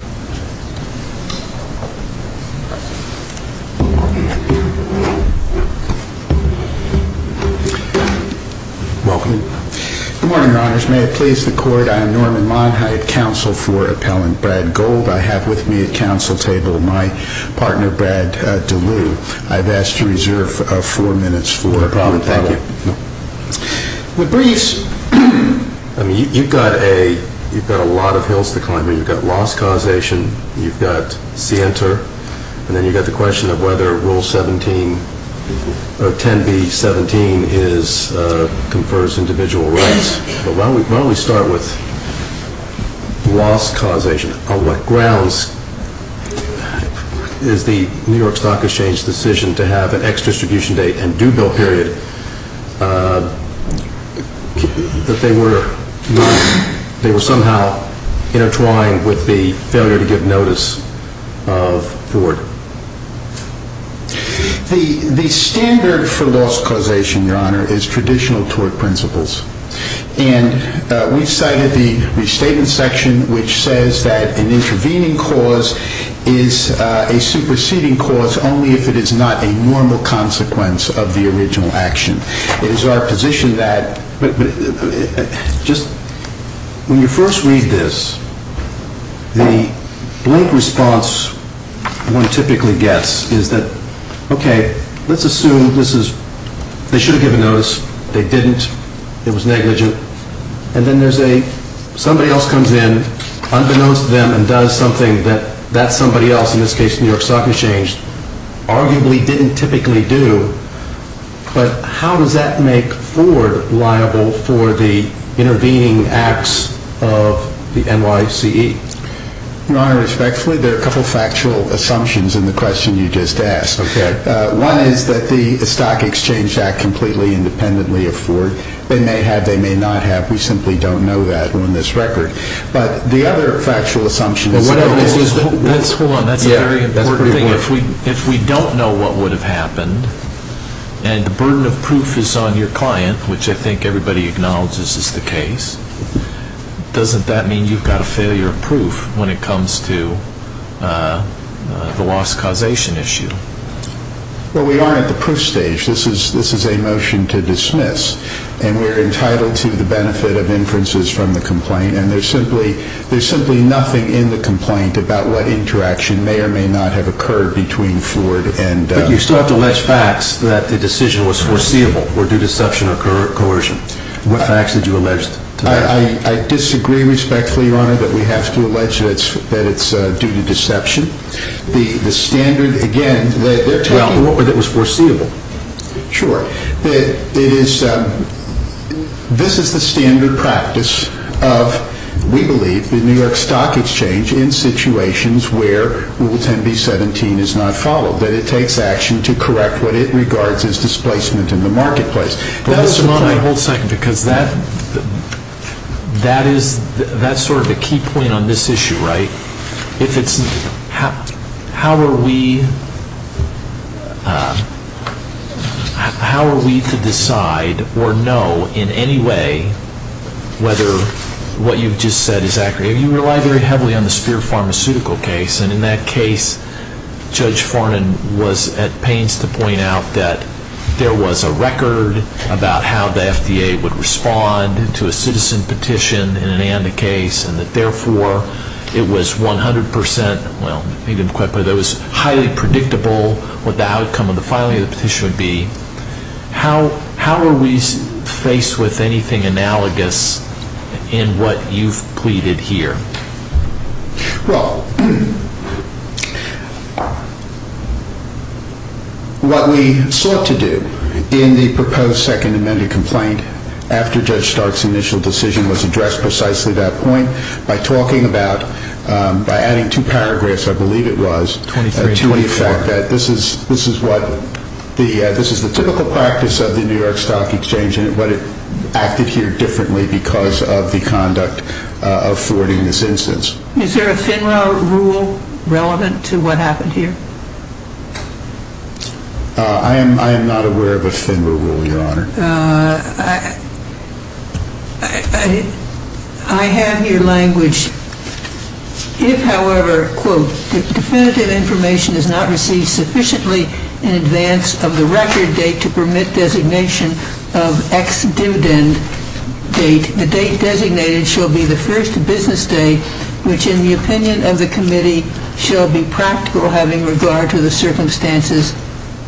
Good morning, Your Honors. May it please the Court, I am Norman Monheit, counsel for Appellant Brad Gold. I have with me at counsel table my partner, Brad DeLue. I've asked to reserve four minutes for appellant. No problem, thank you. With briefs, you've got a lot of hills to climb. You've got loss causation, you've got scienter, and then you've got the question of whether Rule 17, 10B.17 confers individual rights. But why don't we start with loss causation. On what grounds is the New York Stock Exchange decision to have an ex-distribution date and failure to give notice of Ford? The standard for loss causation, Your Honor, is traditional tort principles. And we've cited the restatement section, which says that an intervening cause is a superseding cause only if it is not a normal consequence of the original action. It is our position that, when you first read this, the blank response one typically gets is that, okay, let's assume they should have given notice, they didn't, it was negligent, and then somebody else comes in, unbeknownst to them, and does something that that somebody else, in this case the New York Stock Exchange, arguably didn't typically do. But how does that make Ford liable for the intervening acts of the NYCE? Your Honor, respectfully, there are a couple of factual assumptions in the question you just asked. Okay. One is that the stock exchange act completely independently of Ford. They may have, they may not have, we simply don't know that on this record. But the other factual assumption Hold on. That's a very important thing. If we don't know what would have happened, and the burden of proof is on your client, which I think everybody acknowledges is the case, doesn't that mean you've got a failure of proof when it comes to the loss causation issue? Well, we are at the proof stage. This is a motion to dismiss. And we're entitled to the benefit of inferences from the complaint. And there's simply, there's simply nothing in the complaint about what interaction may or may not have occurred between Ford and But you still have to allege facts that the decision was foreseeable or due to deception or coercion. What facts did you allege to that? I disagree respectfully, Your Honor, that we have to allege that it's due to deception. The standard, again, they're talking Sure. It is, this is the standard practice of, we believe, the New York Stock Exchange in situations where Rule 10B-17 is not followed, that it takes action to correct what it regards as displacement in the marketplace. But listen, Your Honor, hold a second, because that, that is, that's sort of a key point on this issue, right? If it's, how are we, how are we to decide or know in any way whether what you've just said is accurate? You rely very heavily on the Speer Pharmaceutical case. And in that case, Judge Fornan was at pains to point out that there was a record about how the FDA would respond to a citizen petition in an ANDA case and that, therefore, it was 100 percent, well, it was highly predictable what the outcome of the filing of the petition would be. How, how are we faced with anything analogous in what you've pleaded here? Well, what we sought to do in the proposed Second Amendment complaint after Judge Stark's initial decision was addressed precisely at that point by talking about, by adding two paragraphs, I believe it was, to the fact that this is, this is what the, this is the typical practice of the first business day, which in the opinion of the committee shall be practical having regard to the circumstances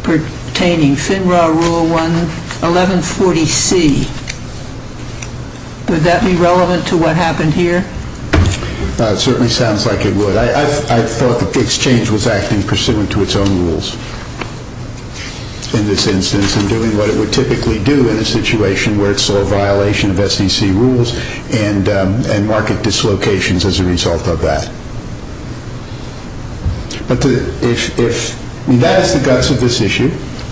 pertaining. FINRA rule 1140C. Would that be relevant to what happened here? No, it certainly sounds like it would. I thought that the exchange was acting pursuant to its own rules in this instance and doing what it would typically do in a situation where it saw a market dislocations as a result of that. But if, if, that is the guts of this issue.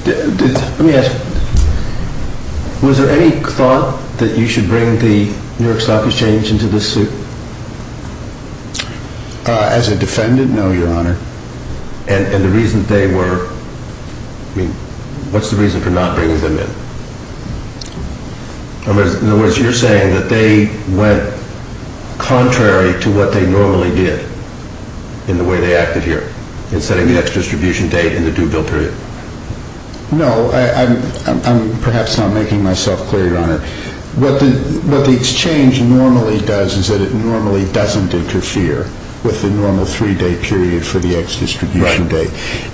Let me ask you, was there any thought that you should bring the New York Stock Exchange into this suit? As a defendant, no, Your Honor. And, and the reason they were, I mean, what's the reason for not bringing them in? In other words, you're saying that they went contrary to what they normally did in the way they acted here in setting the ex-distribution date and the due bill period? No, I'm, I'm, I'm perhaps not making myself clear, Your Honor. What the, what the exchange normally does is that it normally doesn't interfere with the normal three-day period for the ex-distribution date.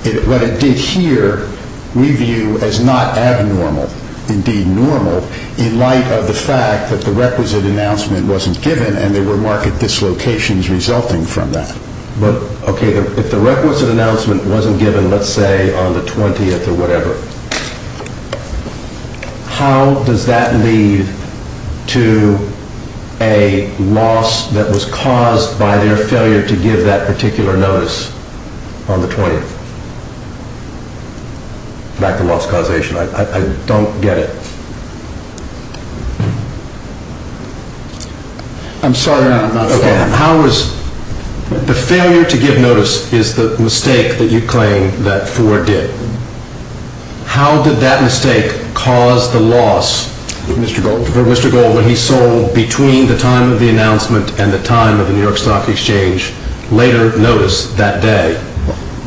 It, what it did here, we view as not abnormal, indeed normal, in light of the fact that the requisite announcement wasn't given and there were market dislocations resulting from that. But, okay, if the requisite announcement wasn't given, let's say on the 20th or whatever, how does that lead to a loss that was caused by their failure to give that particular notice on the 20th? Back to loss causation, I, I don't get it. I'm sorry, Your Honor, I'm not following. Okay, how was, the failure to give notice is the mistake that you claim that Ford did? How did that mistake cause the loss? Mr. Gold? For Mr. Gold, when he sold between the time of the announcement and the time of the New York Stock Exchange later notice that day,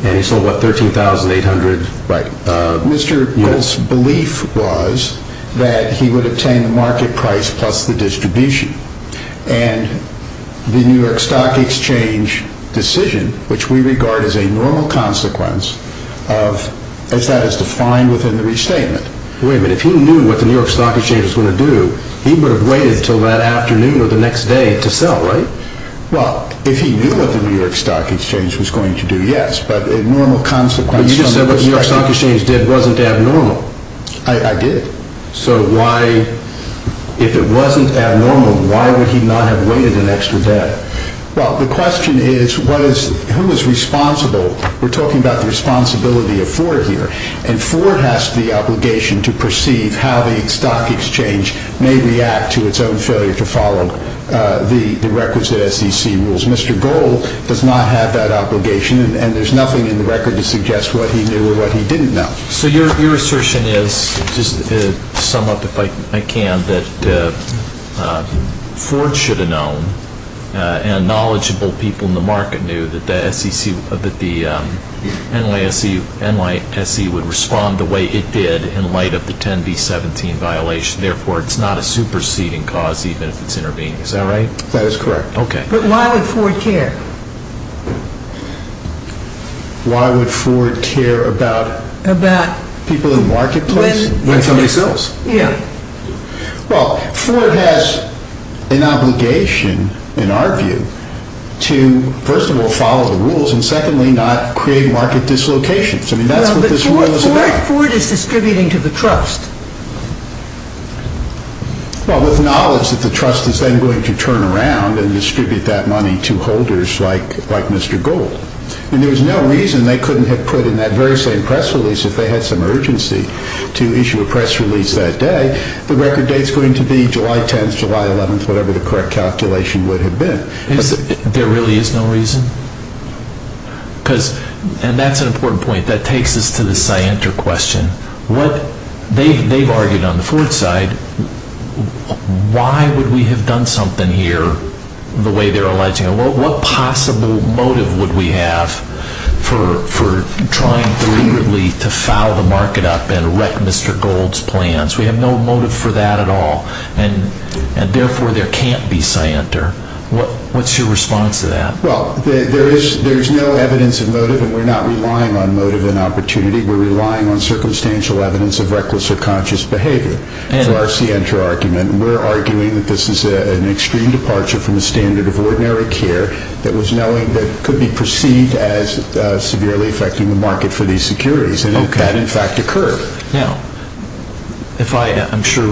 and he sold, what, 13,800? Right. Mr. Gold's belief was that he would obtain the market price plus the distribution. And the New York Stock Exchange decision, which we regard as a normal consequence of, as that is defined within the restatement. Wait a minute, if he knew what the New York Stock Exchange was going to do, he would have waited until that afternoon or the next day to sell, right? Well, if he knew what the New York Stock Exchange was going to do, yes, but a normal consequence But you just said what the New York Stock Exchange did wasn't abnormal. I, I did. So why, if it wasn't abnormal, why would he not have waited an extra day? Well, the question is, what is, who is responsible? We're talking about the responsibility of Ford here. And Ford has the obligation to perceive how the stock exchange may react to its own failure to follow the records of SEC rules. Mr. Gold does not have that obligation, and there's nothing in the record to suggest what he knew or what he didn't know. So your, your assertion is, just to sum up if I can, that Ford should have known, and knowledgeable people in the market knew that the SEC, that the NYSE, NYSE would respond the way it did in light of the 10B17 violation, therefore it's not a superseding cause even if it's intervening. Is that right? That is correct. Okay. But why would Ford care? Why would Ford care about people in the marketplace when somebody sells? Yeah. Well, Ford has an obligation, in our view, to, first of all, follow the rules, and secondly, not create market dislocations. I mean, that's what this rule is about. Well, but Ford, Ford is distributing to the trust. Well, with knowledge that the trust is then going to turn around and distribute that money to holders like, like Mr. Gold. And there was no reason they couldn't have put in that very same press release if they had some urgency to issue a press release that day. The record date's going to be July 10th, July 11th, whatever the correct calculation would have been. There really is no reason? Because, and that's an important point. That takes us to the scienter question. They've argued on the Ford side, why would we have done something here the way they're alleging it? What possible motive would we have for trying deliberately to foul the market up and wreck Mr. Gold's plans? We have no motive for that at all, and therefore, there can't be scienter. What's your response to that? Well, there is no evidence of motive, and we're not relying on motive and opportunity. We're relying on circumstantial evidence of reckless or conscious behavior. So that's the scienter argument, and we're arguing that this is an extreme departure from the standard of ordinary care that was knowing that could be perceived as severely affecting the market for these securities, and it can, in fact, occur. Now, if I, I'm sure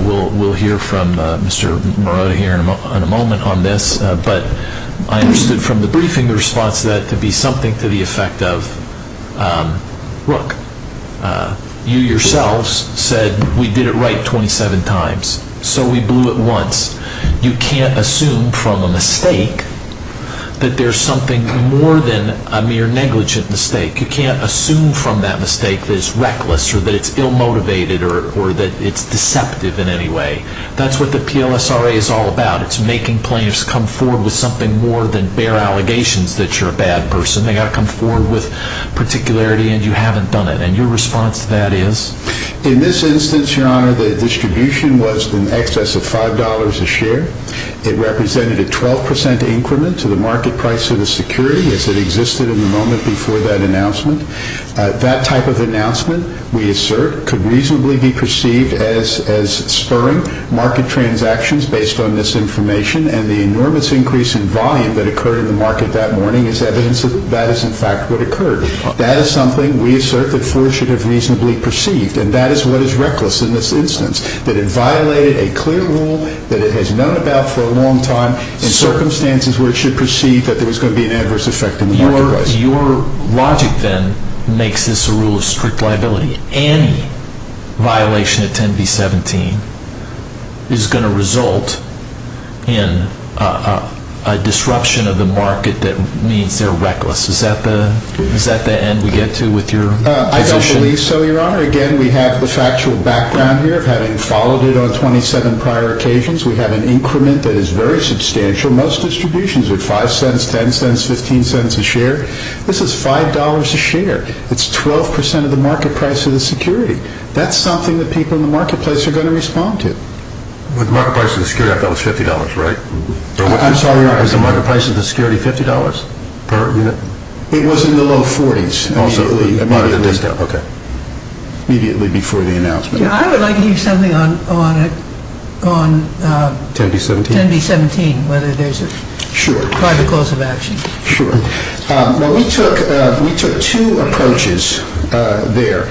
we'll hear from Mr. Morota here in a moment on this, but I understood from the briefing the response to that to be something to the effect of, look, you yourselves said we did it right 27 times, so we blew it once. You can't assume from a mistake that there's something more than a mere negligent mistake. You can't assume from that mistake that it's reckless or that it's ill-motivated or that it's deceptive in any way. That's what the PLSRA is all about. It's making plaintiffs come forward with something more than bare allegations that you're a bad person. They've got to come forward with particularity, and you haven't done it. And your response to that is? In this instance, Your Honor, the distribution was in excess of $5 a share. It represented a 12% increment to the market price of the security as it existed in the moment before that announcement. That type of announcement, we assert, could reasonably be perceived as spurring market transactions based on this information, and the enormous increase in volume that occurred in the market that morning is evidence that that is, in fact, what occurred. That is something, we assert, that Ford should have reasonably perceived, and that is what is reckless in this instance, that it violated a clear rule that it has known about for a long time in circumstances where it should perceive that there was going to be an adverse effect on the market price. Your logic then makes this a rule of strict liability. Any violation of 10B17 is going to result in a disruption of the market that means they're reckless. Is that the end we get to with your position? I don't believe so, Your Honor. Again, we have the factual background here of having followed it on 27 prior occasions. We have an increment that is very substantial. Most distributions are $0.05, $0.10, $0.15 a share. This is $5 a share. It's 12% of the market price of the security. That's something that people in the marketplace are going to respond to. With the market price of the security, I thought it was $50, right? I'm sorry, Your Honor. Was the market price of the security $50 per unit? It was in the low 40s immediately before the announcement. I would like to use something on 10B17, whether there's a private cause of action. Sure. We took two approaches there.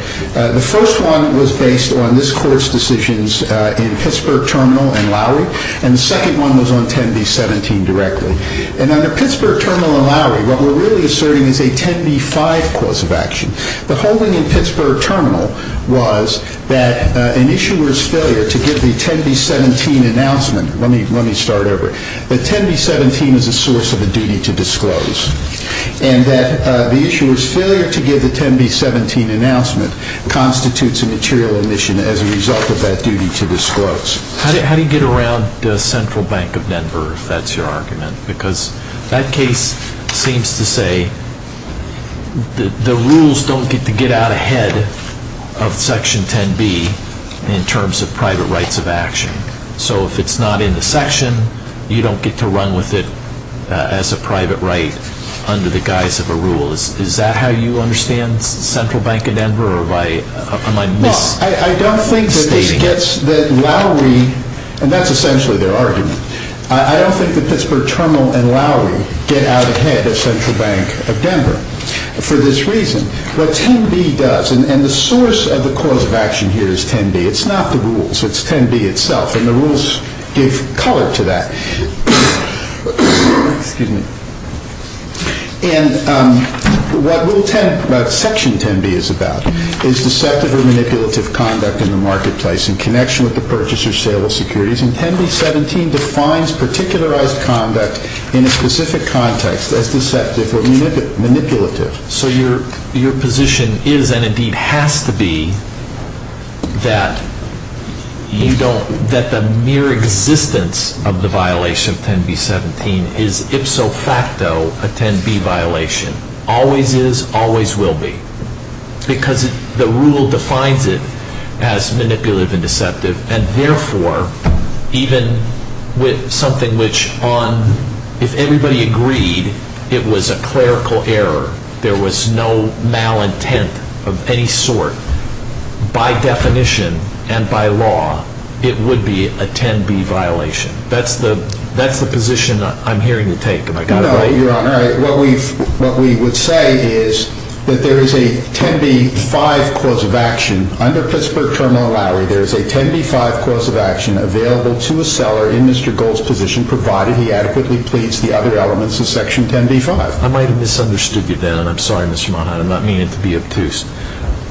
The first one was based on this Court's decisions in Pittsburgh Terminal and Lowry, and the second one was on 10B17 directly. Under Pittsburgh Terminal and Lowry, what we're really asserting is a 10B5 cause of action. The whole thing in Pittsburgh Terminal was that an issuer's failure to give the 10B17 announcement – let me start over – that 10B17 is a source of a duty to disclose, and that the issuer's failure to give the 10B17 announcement constitutes a material omission as a result of that duty to disclose. How do you get around the Central Bank of Denver, if that's your argument? Because that case seems to say the rules don't get to get out ahead of Section 10B in terms of private rights of action. So if it's not in the section, you don't get to run with it as a private right under the guise of a rule. Is that how you understand Central Bank of Denver, or am I misstating it? Well, I don't think that Lowry – and that's essentially their argument – I don't think that Pittsburgh Terminal and Lowry get out ahead of Central Bank of Denver for this reason. What 10B does – and the source of the cause of action here is 10B, it's not the rules, it's 10B itself, and the rules give color to that. And what Section 10B is about is deceptive or manipulative conduct in the marketplace in connection with the purchase or sale of securities. And 10B17 defines particularized conduct in a specific context as deceptive or manipulative. So your position is, and indeed has to be, that the mere existence of the violation of 10B17 is ipso facto a 10B violation. Always is, always will be. Because the rule defines it as manipulative and deceptive, and therefore, even with something which, if everybody agreed it was a clerical error, there was no malintent of any sort, by definition and by law, it would be a 10B violation. That's the position I'm hearing you take. No, Your Honor. What we would say is that there is a 10B5 cause of action. Under Pittsburgh Terminal, Lowry, there is a 10B5 cause of action available to a seller in Mr. Gold's position, provided he adequately pleads the other elements of Section 10B5. I might have misunderstood you there, and I'm sorry, Mr. Monahan. I'm not meaning to be obtuse.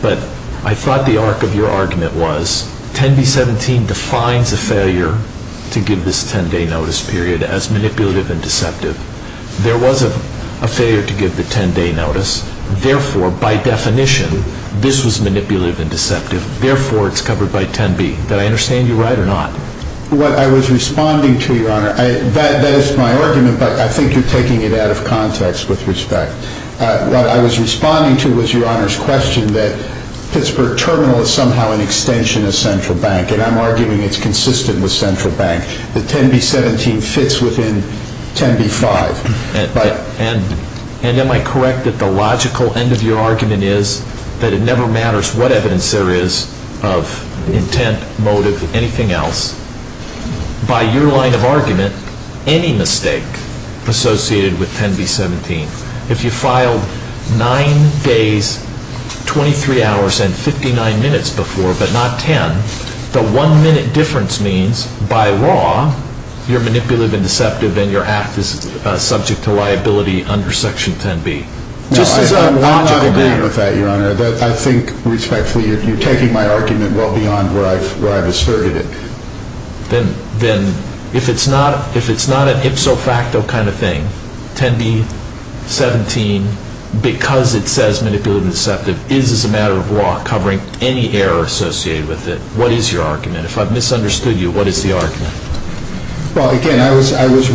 But I thought the arc of your argument was 10B17 defines a failure to give this 10-day notice period as manipulative and deceptive. There was a failure to give the 10-day notice. Therefore, by definition, this was manipulative and deceptive. Therefore, it's covered by 10B. Did I understand you right or not? What I was responding to, Your Honor, that is my argument, but I think you're taking it out of context with respect. What I was responding to was Your Honor's question that Pittsburgh Terminal is somehow an extension of Central Bank, and I'm arguing it's consistent with Central Bank, that 10B17 fits within 10B5. And am I correct that the logical end of your argument is that it never matters what evidence there is of intent, motive, anything else? By your line of argument, any mistake associated with 10B17. If you filed 9 days, 23 hours, and 59 minutes before, but not 10, the one-minute difference means, by law, you're manipulative and deceptive and your act is subject to liability under Section 10B. I do not agree with that, Your Honor. I think, respectfully, you're taking my argument well beyond where I've asserted it. Then if it's not an ipso facto kind of thing, 10B17, because it says manipulative and deceptive, is, as a matter of law, covering any error associated with it, what is your argument? If I've misunderstood you, what is the argument? Well, again, I was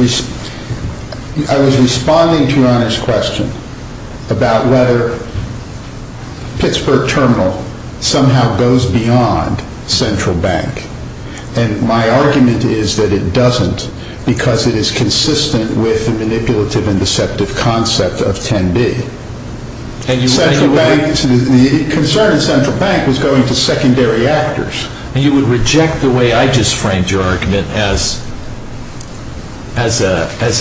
responding to Your Honor's question about whether Pittsburgh Terminal somehow goes beyond Central Bank. And my argument is that it doesn't because it is consistent with the manipulative and deceptive concept of 10B. The concern of Central Bank was going to secondary actors. And you would reject the way I just framed your argument as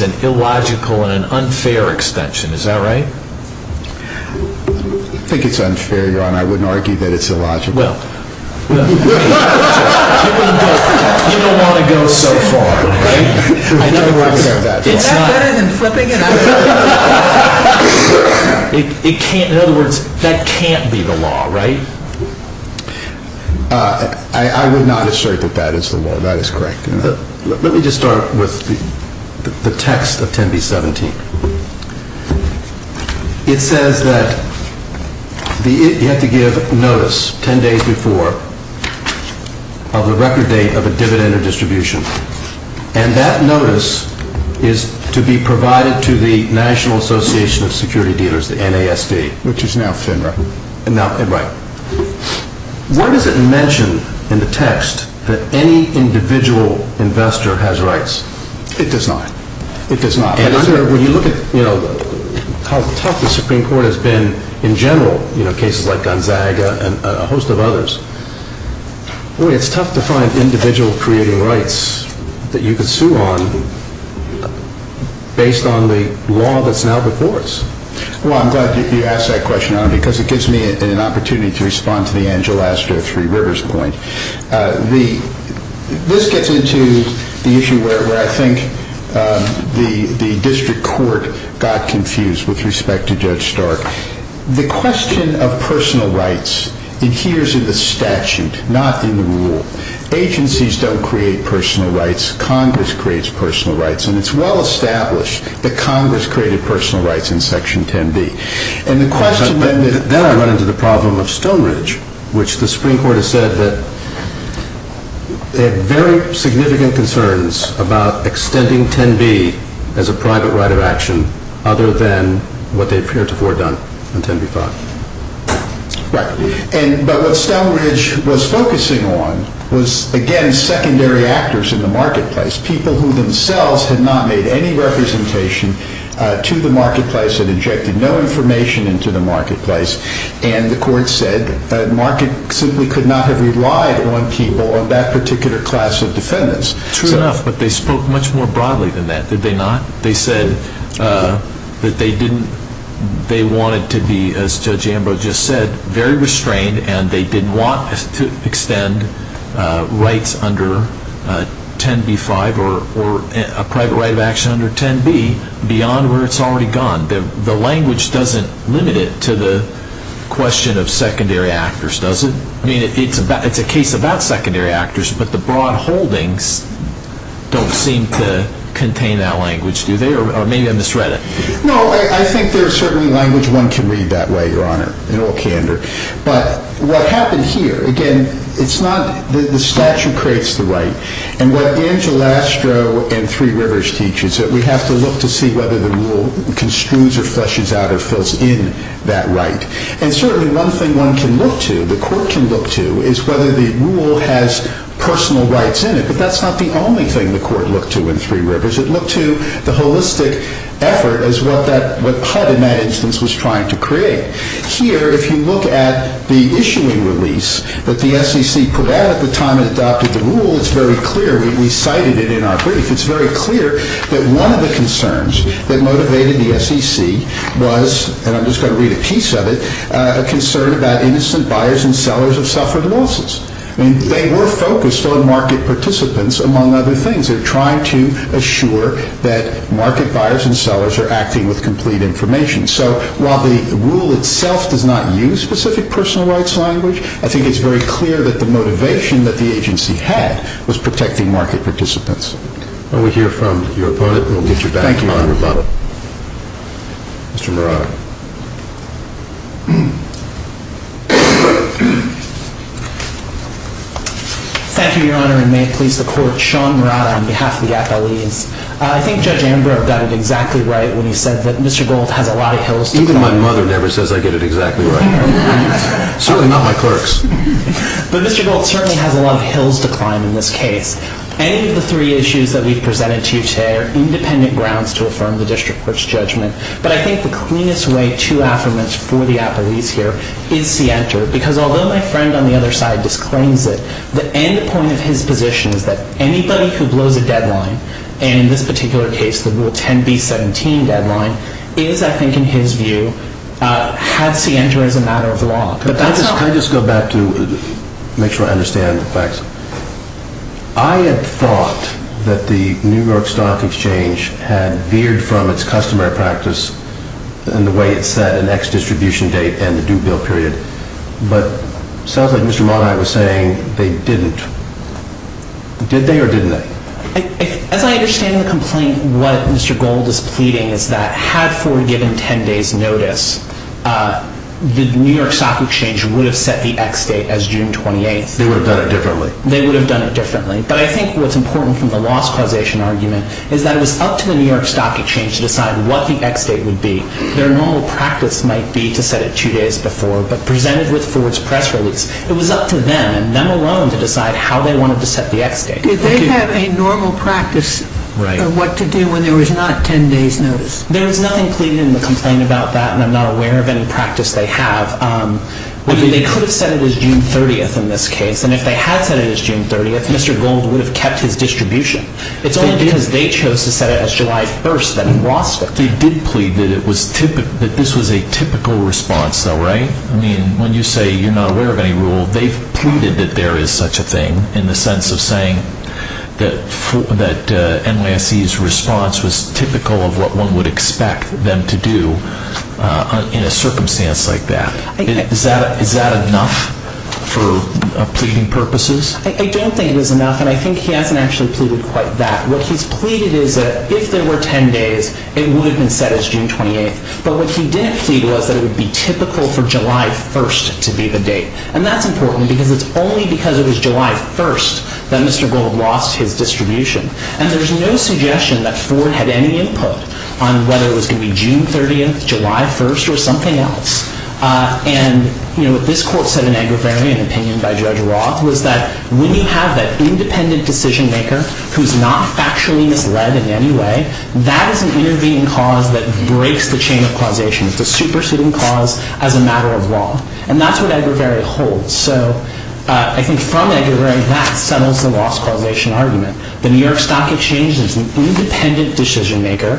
an illogical and an unfair extension, is that right? I think it's unfair, Your Honor. I wouldn't argue that it's illogical. Well, you don't want to go so far, right? In other words, it's not... Is that better than flipping it out? In other words, that can't be the law, right? I would not assert that that is the law. That is correct. Let me just start with the text of 10B17. It says that you have to give notice 10 days before of the record date of a dividend or distribution. And that notice is to be provided to the National Association of Security Dealers, the NASD. Which is now FINRA. Right. Why does it mention in the text that any individual investor has rights? It does not. It does not. And I'm sure when you look at how tough the Supreme Court has been in general, you know, cases like Gonzaga and a host of others, boy, it's tough to find individual creating rights that you can sue on based on the law that's now before us. Well, I'm glad you asked that question, Honor, because it gives me an opportunity to respond to the Angela Astor Three Rivers point. This gets into the issue where I think the district court got confused with respect to Judge Stark. The question of personal rights adheres in the statute, not in the rule. Agencies don't create personal rights. Congress creates personal rights. And it's well established that Congress created personal rights in Section 10B. And the question then I run into the problem of Stone Ridge, which the Supreme Court has said that they have very significant concerns about extending 10B as a private right of action, other than what they've heretofore done in 10B-5. Right. But what Stone Ridge was focusing on was, again, secondary actors in the marketplace, people who themselves had not made any representation to the marketplace and injected no information into the marketplace. And the court said that the market simply could not have relied on people of that particular class of defendants. True enough, but they spoke much more broadly than that, did they not? They said that they wanted to be, as Judge Ambrose just said, very restrained and they didn't want to extend rights under 10B-5 or a private right of action under 10B beyond where it's already gone. The language doesn't limit it to the question of secondary actors, does it? I mean, it's a case about secondary actors, but the broad holdings don't seem to contain that language, do they? Or maybe I misread it. No, I think there's certainly language one can read that way, Your Honor, in all candor. But what happened here, again, the statute creates the right. And what Angel Astro and Three Rivers teach is that we have to look to see whether the rule construes or fleshes out or fills in that right. And certainly one thing one can look to, the court can look to, is whether the rule has personal rights in it. But that's not the only thing the court looked to in Three Rivers. It looked to the holistic effort as what HUD in that instance was trying to create. Here, if you look at the issuing release that the SEC put out at the time it adopted the rule, it's very clear. We cited it in our brief. It's very clear that one of the concerns that motivated the SEC was, and I'm just going to read a piece of it, a concern about innocent buyers and sellers of suffered losses. I mean, they were focused on market participants among other things. They're trying to assure that market buyers and sellers are acting with complete information. So while the rule itself does not use specific personal rights language, I think it's very clear that the motivation that the agency had was protecting market participants. Well, we hear from your opponent, and we'll get you back to him on rebuttal. Thank you, Your Honor. Mr. Murata. Thank you, Your Honor, and may it please the Court, Sean Murata on behalf of the appellees. I think Judge Amber got it exactly right when he said that Mr. Gold has a lot of hills to climb. Even my mother never says I get it exactly right. Certainly not my clerks. But Mr. Gold certainly has a lot of hills to climb in this case. Any of the three issues that we've presented to you today are independent grounds to affirm the district court's judgment. But I think the cleanest way to affirm it for the appellees here is see enter, because although my friend on the other side disclaims it, the end point of his position is that anybody who blows a deadline, and in this particular case the Rule 10b-17 deadline, is, I think in his view, had see enter as a matter of law. Can I just go back to make sure I understand the facts? I had thought that the New York Stock Exchange had veered from its customary practice in the way it set an ex-distribution date and the due bill period. But it sounds like Mr. Murata was saying they didn't. Did they or didn't they? As I understand the complaint, what Mr. Gold is pleading is that had Ford given 10 days' notice, the New York Stock Exchange would have set the ex-date as June 28th. They would have done it differently. They would have done it differently. But I think what's important from the loss causation argument is that it was up to the New York Stock Exchange to decide what the ex-date would be. Their normal practice might be to set it two days before, but presented with Ford's press release, it was up to them and them alone to decide how they wanted to set the ex-date. Did they have a normal practice of what to do when there was not 10 days' notice? There was nothing pleaded in the complaint about that, and I'm not aware of any practice they have. They could have set it as June 30th in this case, and if they had set it as June 30th, Mr. Gold would have kept his distribution. It's only because they chose to set it as July 1st that he lost it. They did plead that this was a typical response, though, right? I mean, when you say you're not aware of any rule, they've pleaded that there is such a thing, in the sense of saying that NYSE's response was typical of what one would expect them to do in a circumstance like that. Is that enough for pleading purposes? I don't think it was enough, and I think he hasn't actually pleaded quite that. What he's pleaded is that if there were 10 days, it would have been set as June 28th. But what he didn't plead was that it would be typical for July 1st to be the date. And that's important because it's only because it was July 1st that Mr. Gold lost his distribution. And there's no suggestion that Ford had any input on whether it was going to be June 30th, July 1st, or something else. And, you know, what this Court said in Agravary, an opinion by Judge Roth, was that when you have that independent decision-maker who's not factually misled in any way, that is an intervening cause that breaks the chain of causation. It's a superseding cause as a matter of law. And that's what Agravary holds. So I think from Agravary, that settles the loss causation argument. The New York Stock Exchange is an independent decision-maker.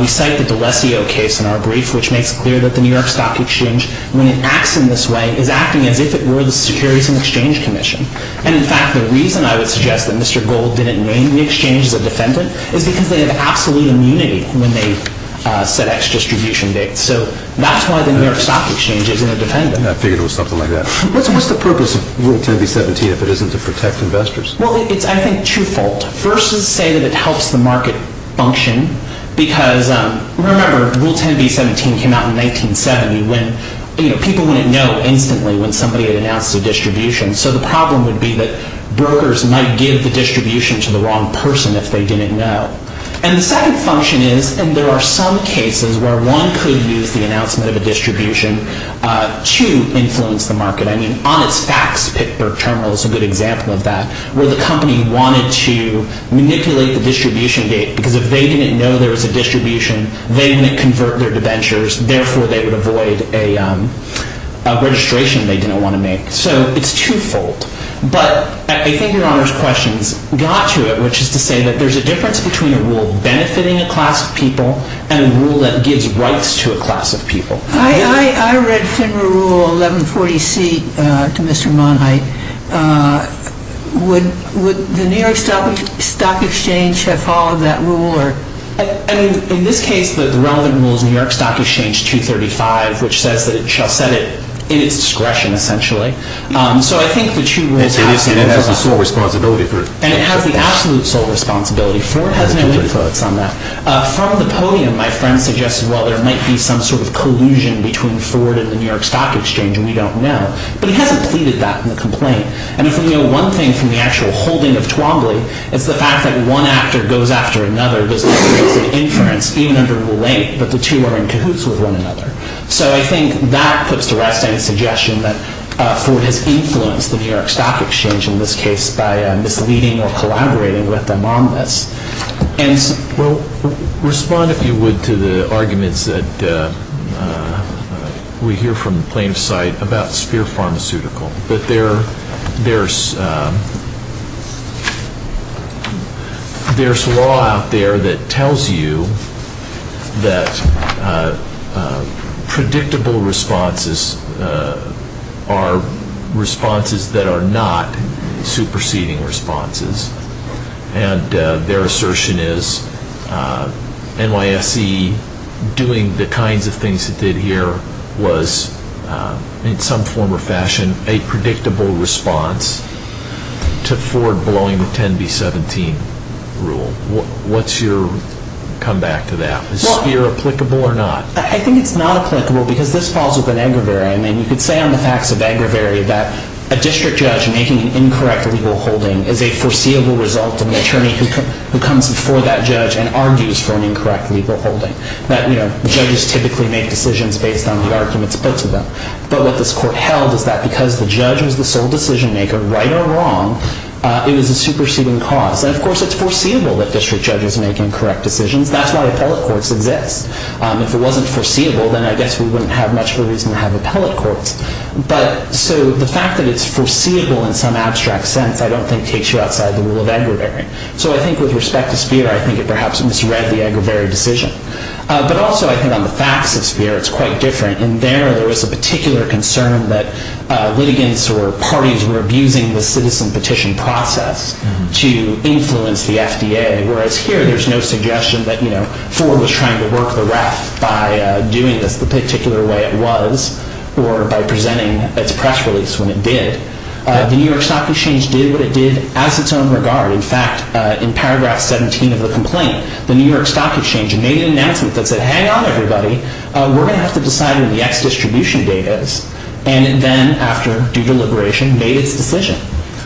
We cite the D'Alessio case in our brief, which makes it clear that the New York Stock Exchange, when it acts in this way, is acting as if it were the Securities and Exchange Commission. And, in fact, the reason I would suggest that Mr. Gold didn't name the exchange as a defendant is because they have absolute immunity when they set X distribution dates. So that's why the New York Stock Exchange isn't a defendant. I figured it was something like that. What's the purpose of Rule 10b-17 if it isn't to protect investors? Well, it's, I think, twofold. First is to say that it helps the market function because, remember, Rule 10b-17 came out in 1970 when people wouldn't know instantly when somebody had announced a distribution. So the problem would be that brokers might give the distribution to the wrong person if they didn't know. And the second function is, and there are some cases where one could use the announcement of a distribution to influence the market. I mean, on its facts, Pittsburgh Terminal is a good example of that, where the company wanted to manipulate the distribution date because if they didn't know there was a distribution, they wouldn't convert their debentures. Therefore, they would avoid a registration they didn't want to make. So it's twofold. But I think Your Honor's questions got to it, which is to say that there's a difference between a rule benefiting a class of people and a rule that gives rights to a class of people. I read FINRA Rule 1140c to Mr. Monheit. Would the New York Stock Exchange have followed that rule? In this case, the relevant rule is New York Stock Exchange 235, which says that it shall set it in its discretion, essentially. So I think the two rules have to be followed. And it has the sole responsibility for it. And it has the absolute sole responsibility for it. It has no influence on that. From the podium, my friend suggested, well, there might be some sort of collusion between Ford and the New York Stock Exchange, and we don't know. But he hasn't pleaded that in the complaint. And if we know one thing from the actual holding of Twombly, it's the fact that one actor goes after another. There's no trace of inference, even under rule 8, that the two are in cahoots with one another. So I think that puts to rest any suggestion that Ford has influenced the New York Stock Exchange, in this case, by misleading or collaborating with them on this. Respond, if you would, to the arguments that we hear from plaintiffs' side about Speer Pharmaceutical. But there's law out there that tells you that predictable responses are responses that are not superseding responses. And their assertion is NYSE doing the kinds of things it did here was, in some form or fashion, a predictable response to Ford blowing the 10B17 rule. What's your comeback to that? Is Speer applicable or not? I think it's not applicable, because this falls within Agravery. I mean, you could say on the facts of Agravery that a district judge making an incorrect legal holding is a foreseeable result of an attorney who comes before that judge and argues for an incorrect legal holding. Judges typically make decisions based on the arguments put to them. But what this court held is that because the judge was the sole decision maker, right or wrong, it was a superseding cause. And of course, it's foreseeable that district judges make incorrect decisions. That's why appellate courts exist. If it wasn't foreseeable, then I guess we wouldn't have much of a reason to have appellate courts. But so the fact that it's foreseeable in some abstract sense, I don't think, takes you outside the rule of Agravery. So I think with respect to Speer, I think it perhaps misread the Agravery decision. But also I think on the facts of Speer, it's quite different. In there, there was a particular concern that litigants or parties were abusing the citizen petition process to influence the FDA, whereas here there's no suggestion that Ford was trying to work the ref by doing this the particular way it was or by presenting its press release when it did. The New York Stock Exchange did what it did as its own regard. In fact, in paragraph 17 of the complaint, the New York Stock Exchange made an announcement that said, hang on, everybody, we're going to have to decide when the X distribution date is. And then after due deliberation, made its decision.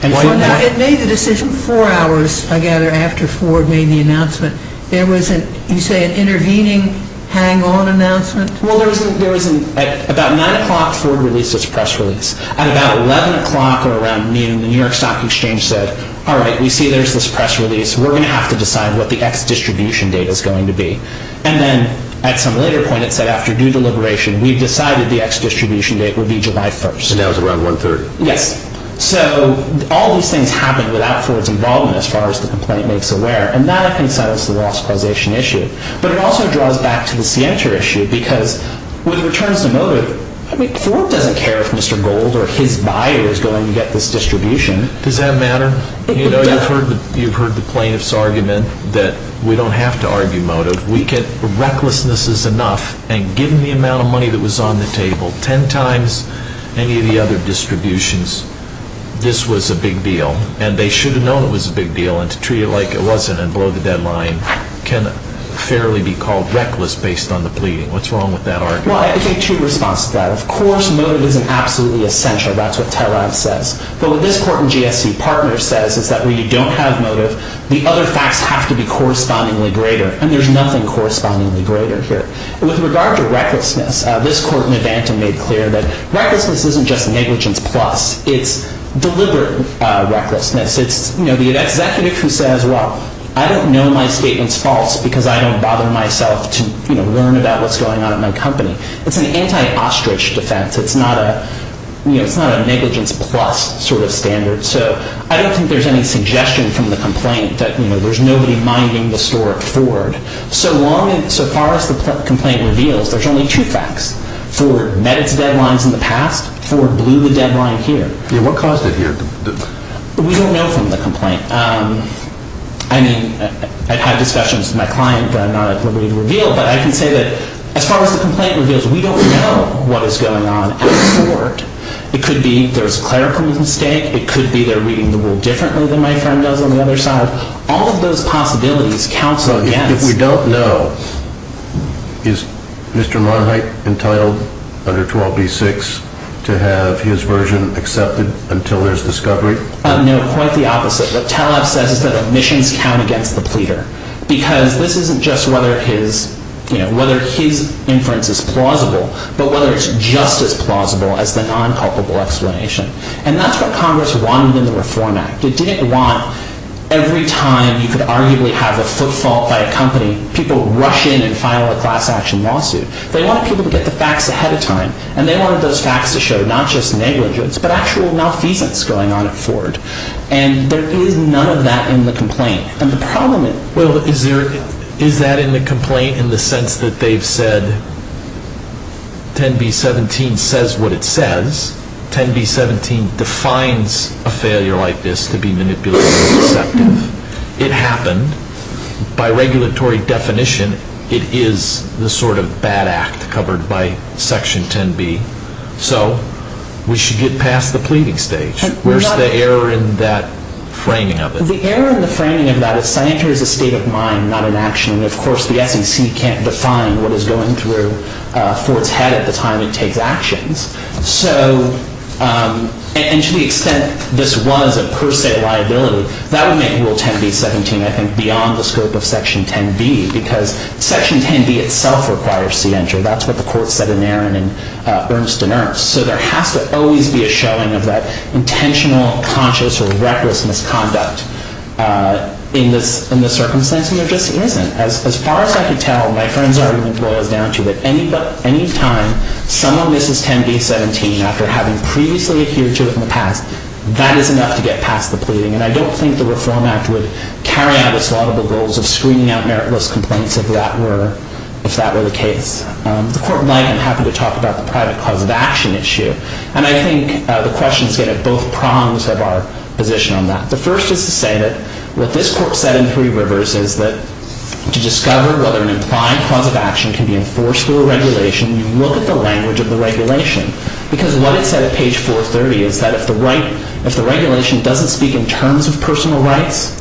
It made the decision four hours, I gather, after Ford made the announcement. There was, you say, an intervening hang-on announcement? Well, at about 9 o'clock, Ford released its press release. At about 11 o'clock or around noon, the New York Stock Exchange said, all right, we see there's this press release. We're going to have to decide what the X distribution date is going to be. And then at some later point, it said after due deliberation, we've decided the X distribution date would be July 1st. And that was around 1.30? Yes. So all these things happened without Ford's involvement as far as the complaint makes aware. And that, I think, settles the loss causation issue. But it also draws back to the Sienta issue because when it returns to motive, I mean, Ford doesn't care if Mr. Gold or his buyer is going to get this distribution. Does that matter? You know, you've heard the plaintiff's argument that we don't have to argue motive. Recklessness is enough. And given the amount of money that was on the table, ten times any of the other distributions, this was a big deal. And they should have known it was a big deal. And to treat it like it wasn't and blow the deadline can fairly be called reckless based on the pleading. What's wrong with that argument? Well, I think two responses to that. Of course, motive isn't absolutely essential. That's what Terav says. But what this court in GSC partner says is that where you don't have motive, the other facts have to be correspondingly greater. And there's nothing correspondingly greater here. With regard to recklessness, this court in Advanta made clear that recklessness isn't just negligence plus. It's deliberate recklessness. It's, you know, the executive who says, well, I don't know my statement's false because I don't bother myself to, you know, learn about what's going on at my company. It's an anti-ostrich defense. It's not a, you know, it's not a negligence plus sort of standard. So I don't think there's any suggestion from the complaint that, you know, there's nobody minding the store at Ford. So long as so far as the complaint reveals, there's only two facts. Ford met its deadlines in the past. Ford blew the deadline here. What caused it here? We don't know from the complaint. I mean, I've had discussions with my client that I'm not at liberty to reveal, but I can say that as far as the complaint reveals, we don't know what is going on at Ford. It could be there's a clerical mistake. It could be they're reading the rule differently than my friend does on the other side. All of those possibilities counsel against. If we don't know, is Mr. Monheit entitled under 12b-6 to have his version accepted until there's discovery? No, quite the opposite. What Taleb says is that admissions count against the pleader because this isn't just whether his, you know, whether his inference is plausible, but whether it's just as plausible as the non-culpable explanation. And that's what Congress wanted in the Reform Act. It didn't want every time you could arguably have a footfall by a company, people rush in and file a class action lawsuit. They wanted people to get the facts ahead of time. And they wanted those facts to show not just negligence, but actual malfeasance going on at Ford. And there is none of that in the complaint. And the problem is... Well, is there, is that in the complaint in the sense that they've said 10b-17 says what it says? 10b-17 defines a failure like this to be manipulative and deceptive. It happened. By regulatory definition, it is the sort of bad act covered by Section 10b. So we should get past the pleading stage. Where's the error in that framing of it? The error in the framing of that is scienter is a state of mind, not an action. And, of course, the SEC can't define what is going through Ford's head at the time it takes actions. So, and to the extent this was a per se liability, that would make Rule 10b-17, I think, beyond the scope of Section 10b because Section 10b itself requires scienter. That's what the court said in Aaron and Ernst and Ernst. So there has to always be a showing of that intentional, conscious, or reckless misconduct in this circumstance. And there just isn't. As far as I can tell, my friend's argument boils down to that any time someone misses 10b-17 after having previously adhered to it in the past, that is enough to get past the pleading. And I don't think the Reform Act would carry out its laudable goals of screening out meritless complaints if that were the case. The court might. I'm happy to talk about the private cause of action issue. And I think the questions get at both prongs of our position on that. The first is to say that what this court said in Three Rivers is that to discover whether an implied cause of action can be enforced through a regulation, you look at the language of the regulation. Because what it said at page 430 is that if the regulation doesn't speak in terms of personal rights,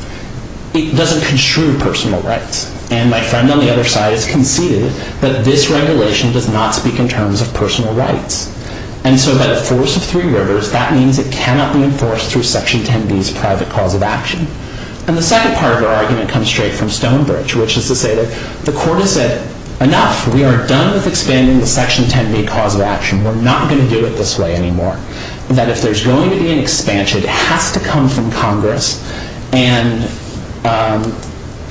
it doesn't construe personal rights. And my friend on the other side has conceded that this regulation does not speak in terms of personal rights. And so by the force of Three Rivers, that means it cannot be enforced through Section 10b's private cause of action. And the second part of our argument comes straight from Stonebridge, which is to say that the court has said, enough. We are done with expanding the Section 10b cause of action. We're not going to do it this way anymore. That if there's going to be an expansion, it has to come from Congress. And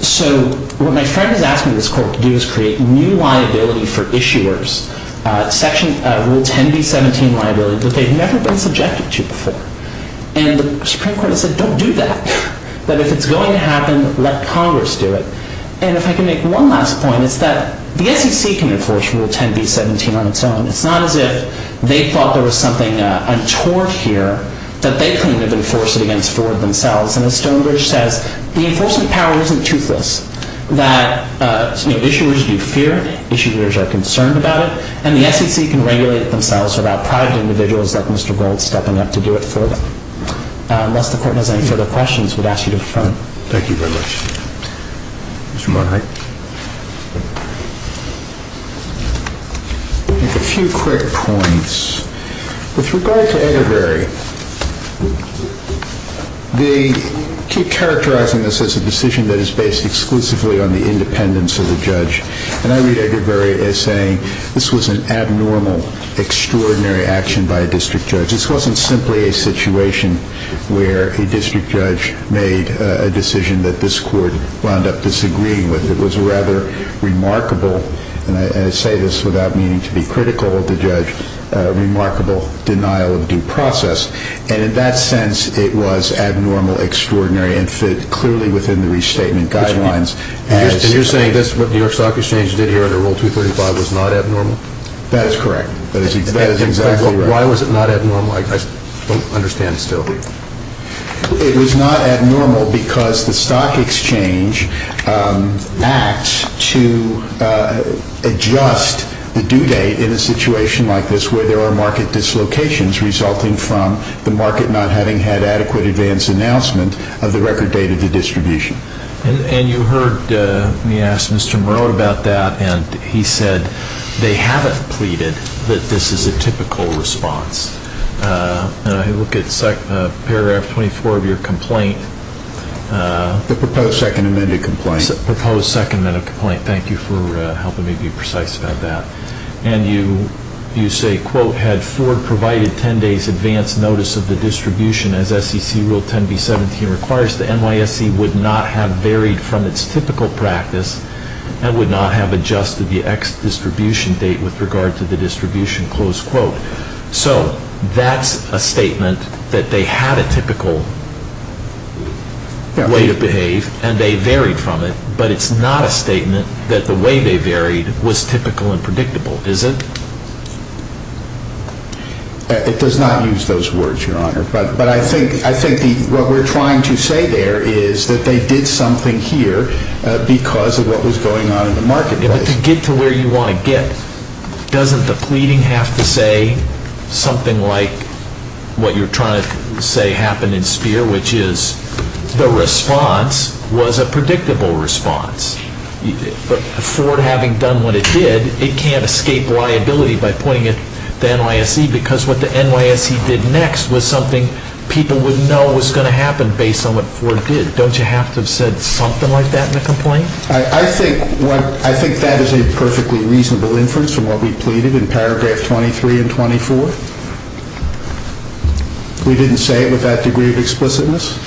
so what my friend is asking this court to do is create new liability for issuers, Rule 10b-17 liability that they've never been subjected to before. And the Supreme Court has said, don't do that. That if it's going to happen, let Congress do it. And if I can make one last point, it's that the SEC can enforce Rule 10b-17 on its own. It's not as if they thought there was something untoward here that they claim to have enforced it against Ford themselves. And as Stonebridge says, the enforcement power isn't toothless. That issuers do fear. Issuers are concerned about it. And the SEC can regulate it themselves without private individuals like Mr. Gold stepping up to do it for them. Unless the court has any further questions, we'd ask you to defer. Thank you very much. Mr. Monaghan. A few quick points. With regard to Ederberry, they keep characterizing this as a decision that is based exclusively on the independence of the judge. And I read Ederberry as saying this was an abnormal, extraordinary action by a district judge. This wasn't simply a situation where a district judge made a decision that this court wound up disagreeing with. It was rather remarkable, and I say this without meaning to be critical of the judge, a remarkable denial of due process. And in that sense, it was abnormal, extraordinary, and fit clearly within the restatement guidelines. And you're saying what the New York Stock Exchange did here under Rule 235 was not abnormal? That is correct. That is exactly right. Why was it not abnormal? I don't understand still. It was not abnormal because the Stock Exchange acts to adjust the due date in a situation like this where there are market dislocations resulting from the market not having had adequate advance announcement of the record date of the distribution. And you heard me ask Mr. Moreau about that, and he said they haven't pleaded that this is a typical response. And I look at paragraph 24 of your complaint. The proposed second amended complaint. The proposed second amended complaint. Thank you for helping me be precise about that. And you say, quote, had Ford provided 10 days advance notice of the distribution as SEC Rule 10B-17 requires, the NYSE would not have varied from its typical practice and would not have adjusted the X distribution date with regard to the distribution, close quote. So that's a statement that they had a typical way to behave and they varied from it, but it's not a statement that the way they varied was typical and predictable, is it? It does not use those words, Your Honor. But I think what we're trying to say there is that they did something here because of what was going on in the marketplace. But to get to where you want to get, doesn't the pleading have to say something like what you're trying to say happened in Speer, which is the response was a predictable response. But Ford having done what it did, it can't escape liability by pointing at the NYSE because what the NYSE did next was something people would know was going to happen based on what Ford did. Don't you have to have said something like that in the complaint? I think that is a perfectly reasonable inference from what we pleaded in paragraph 23 and 24. We didn't say it with that degree of explicitness,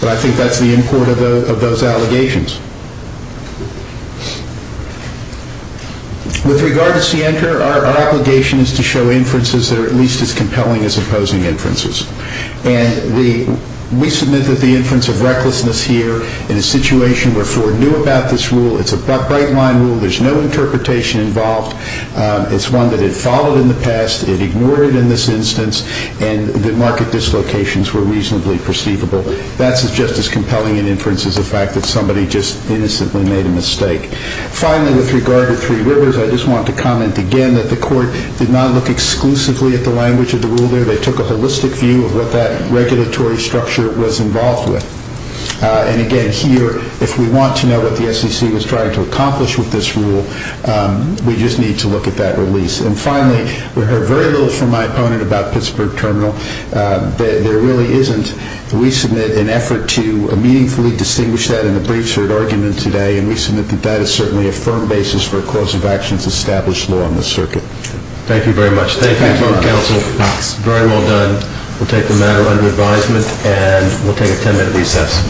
but I think that's the import of those allegations. With regard to Sienter, our obligation is to show inferences that are at least as compelling as opposing inferences. We submit that the inference of recklessness here in a situation where Ford knew about this rule, it's a bright-line rule, there's no interpretation involved, it's one that had followed in the past, it ignored it in this instance, and the market dislocations were reasonably perceivable. That's just as compelling an inference as the fact that somebody just innocently made a mistake. Finally, with regard to Three Rivers, I just want to comment again that the court did not look exclusively at the language of the rule there. They took a holistic view of what that regulatory structure was involved with. Again, here, if we want to know what the SEC was trying to accomplish with this rule, we just need to look at that release. Finally, we heard very little from my opponent about Pittsburgh Terminal. There really isn't, we submit, an effort to meaningfully distinguish that in the briefs heard argument today, and we submit that that is certainly a firm basis for a cause of action to establish law on the circuit. Thank you very much. Thank you to all the counsel. Very well done. We'll take the matter under advisement, and we'll take a ten-minute recess.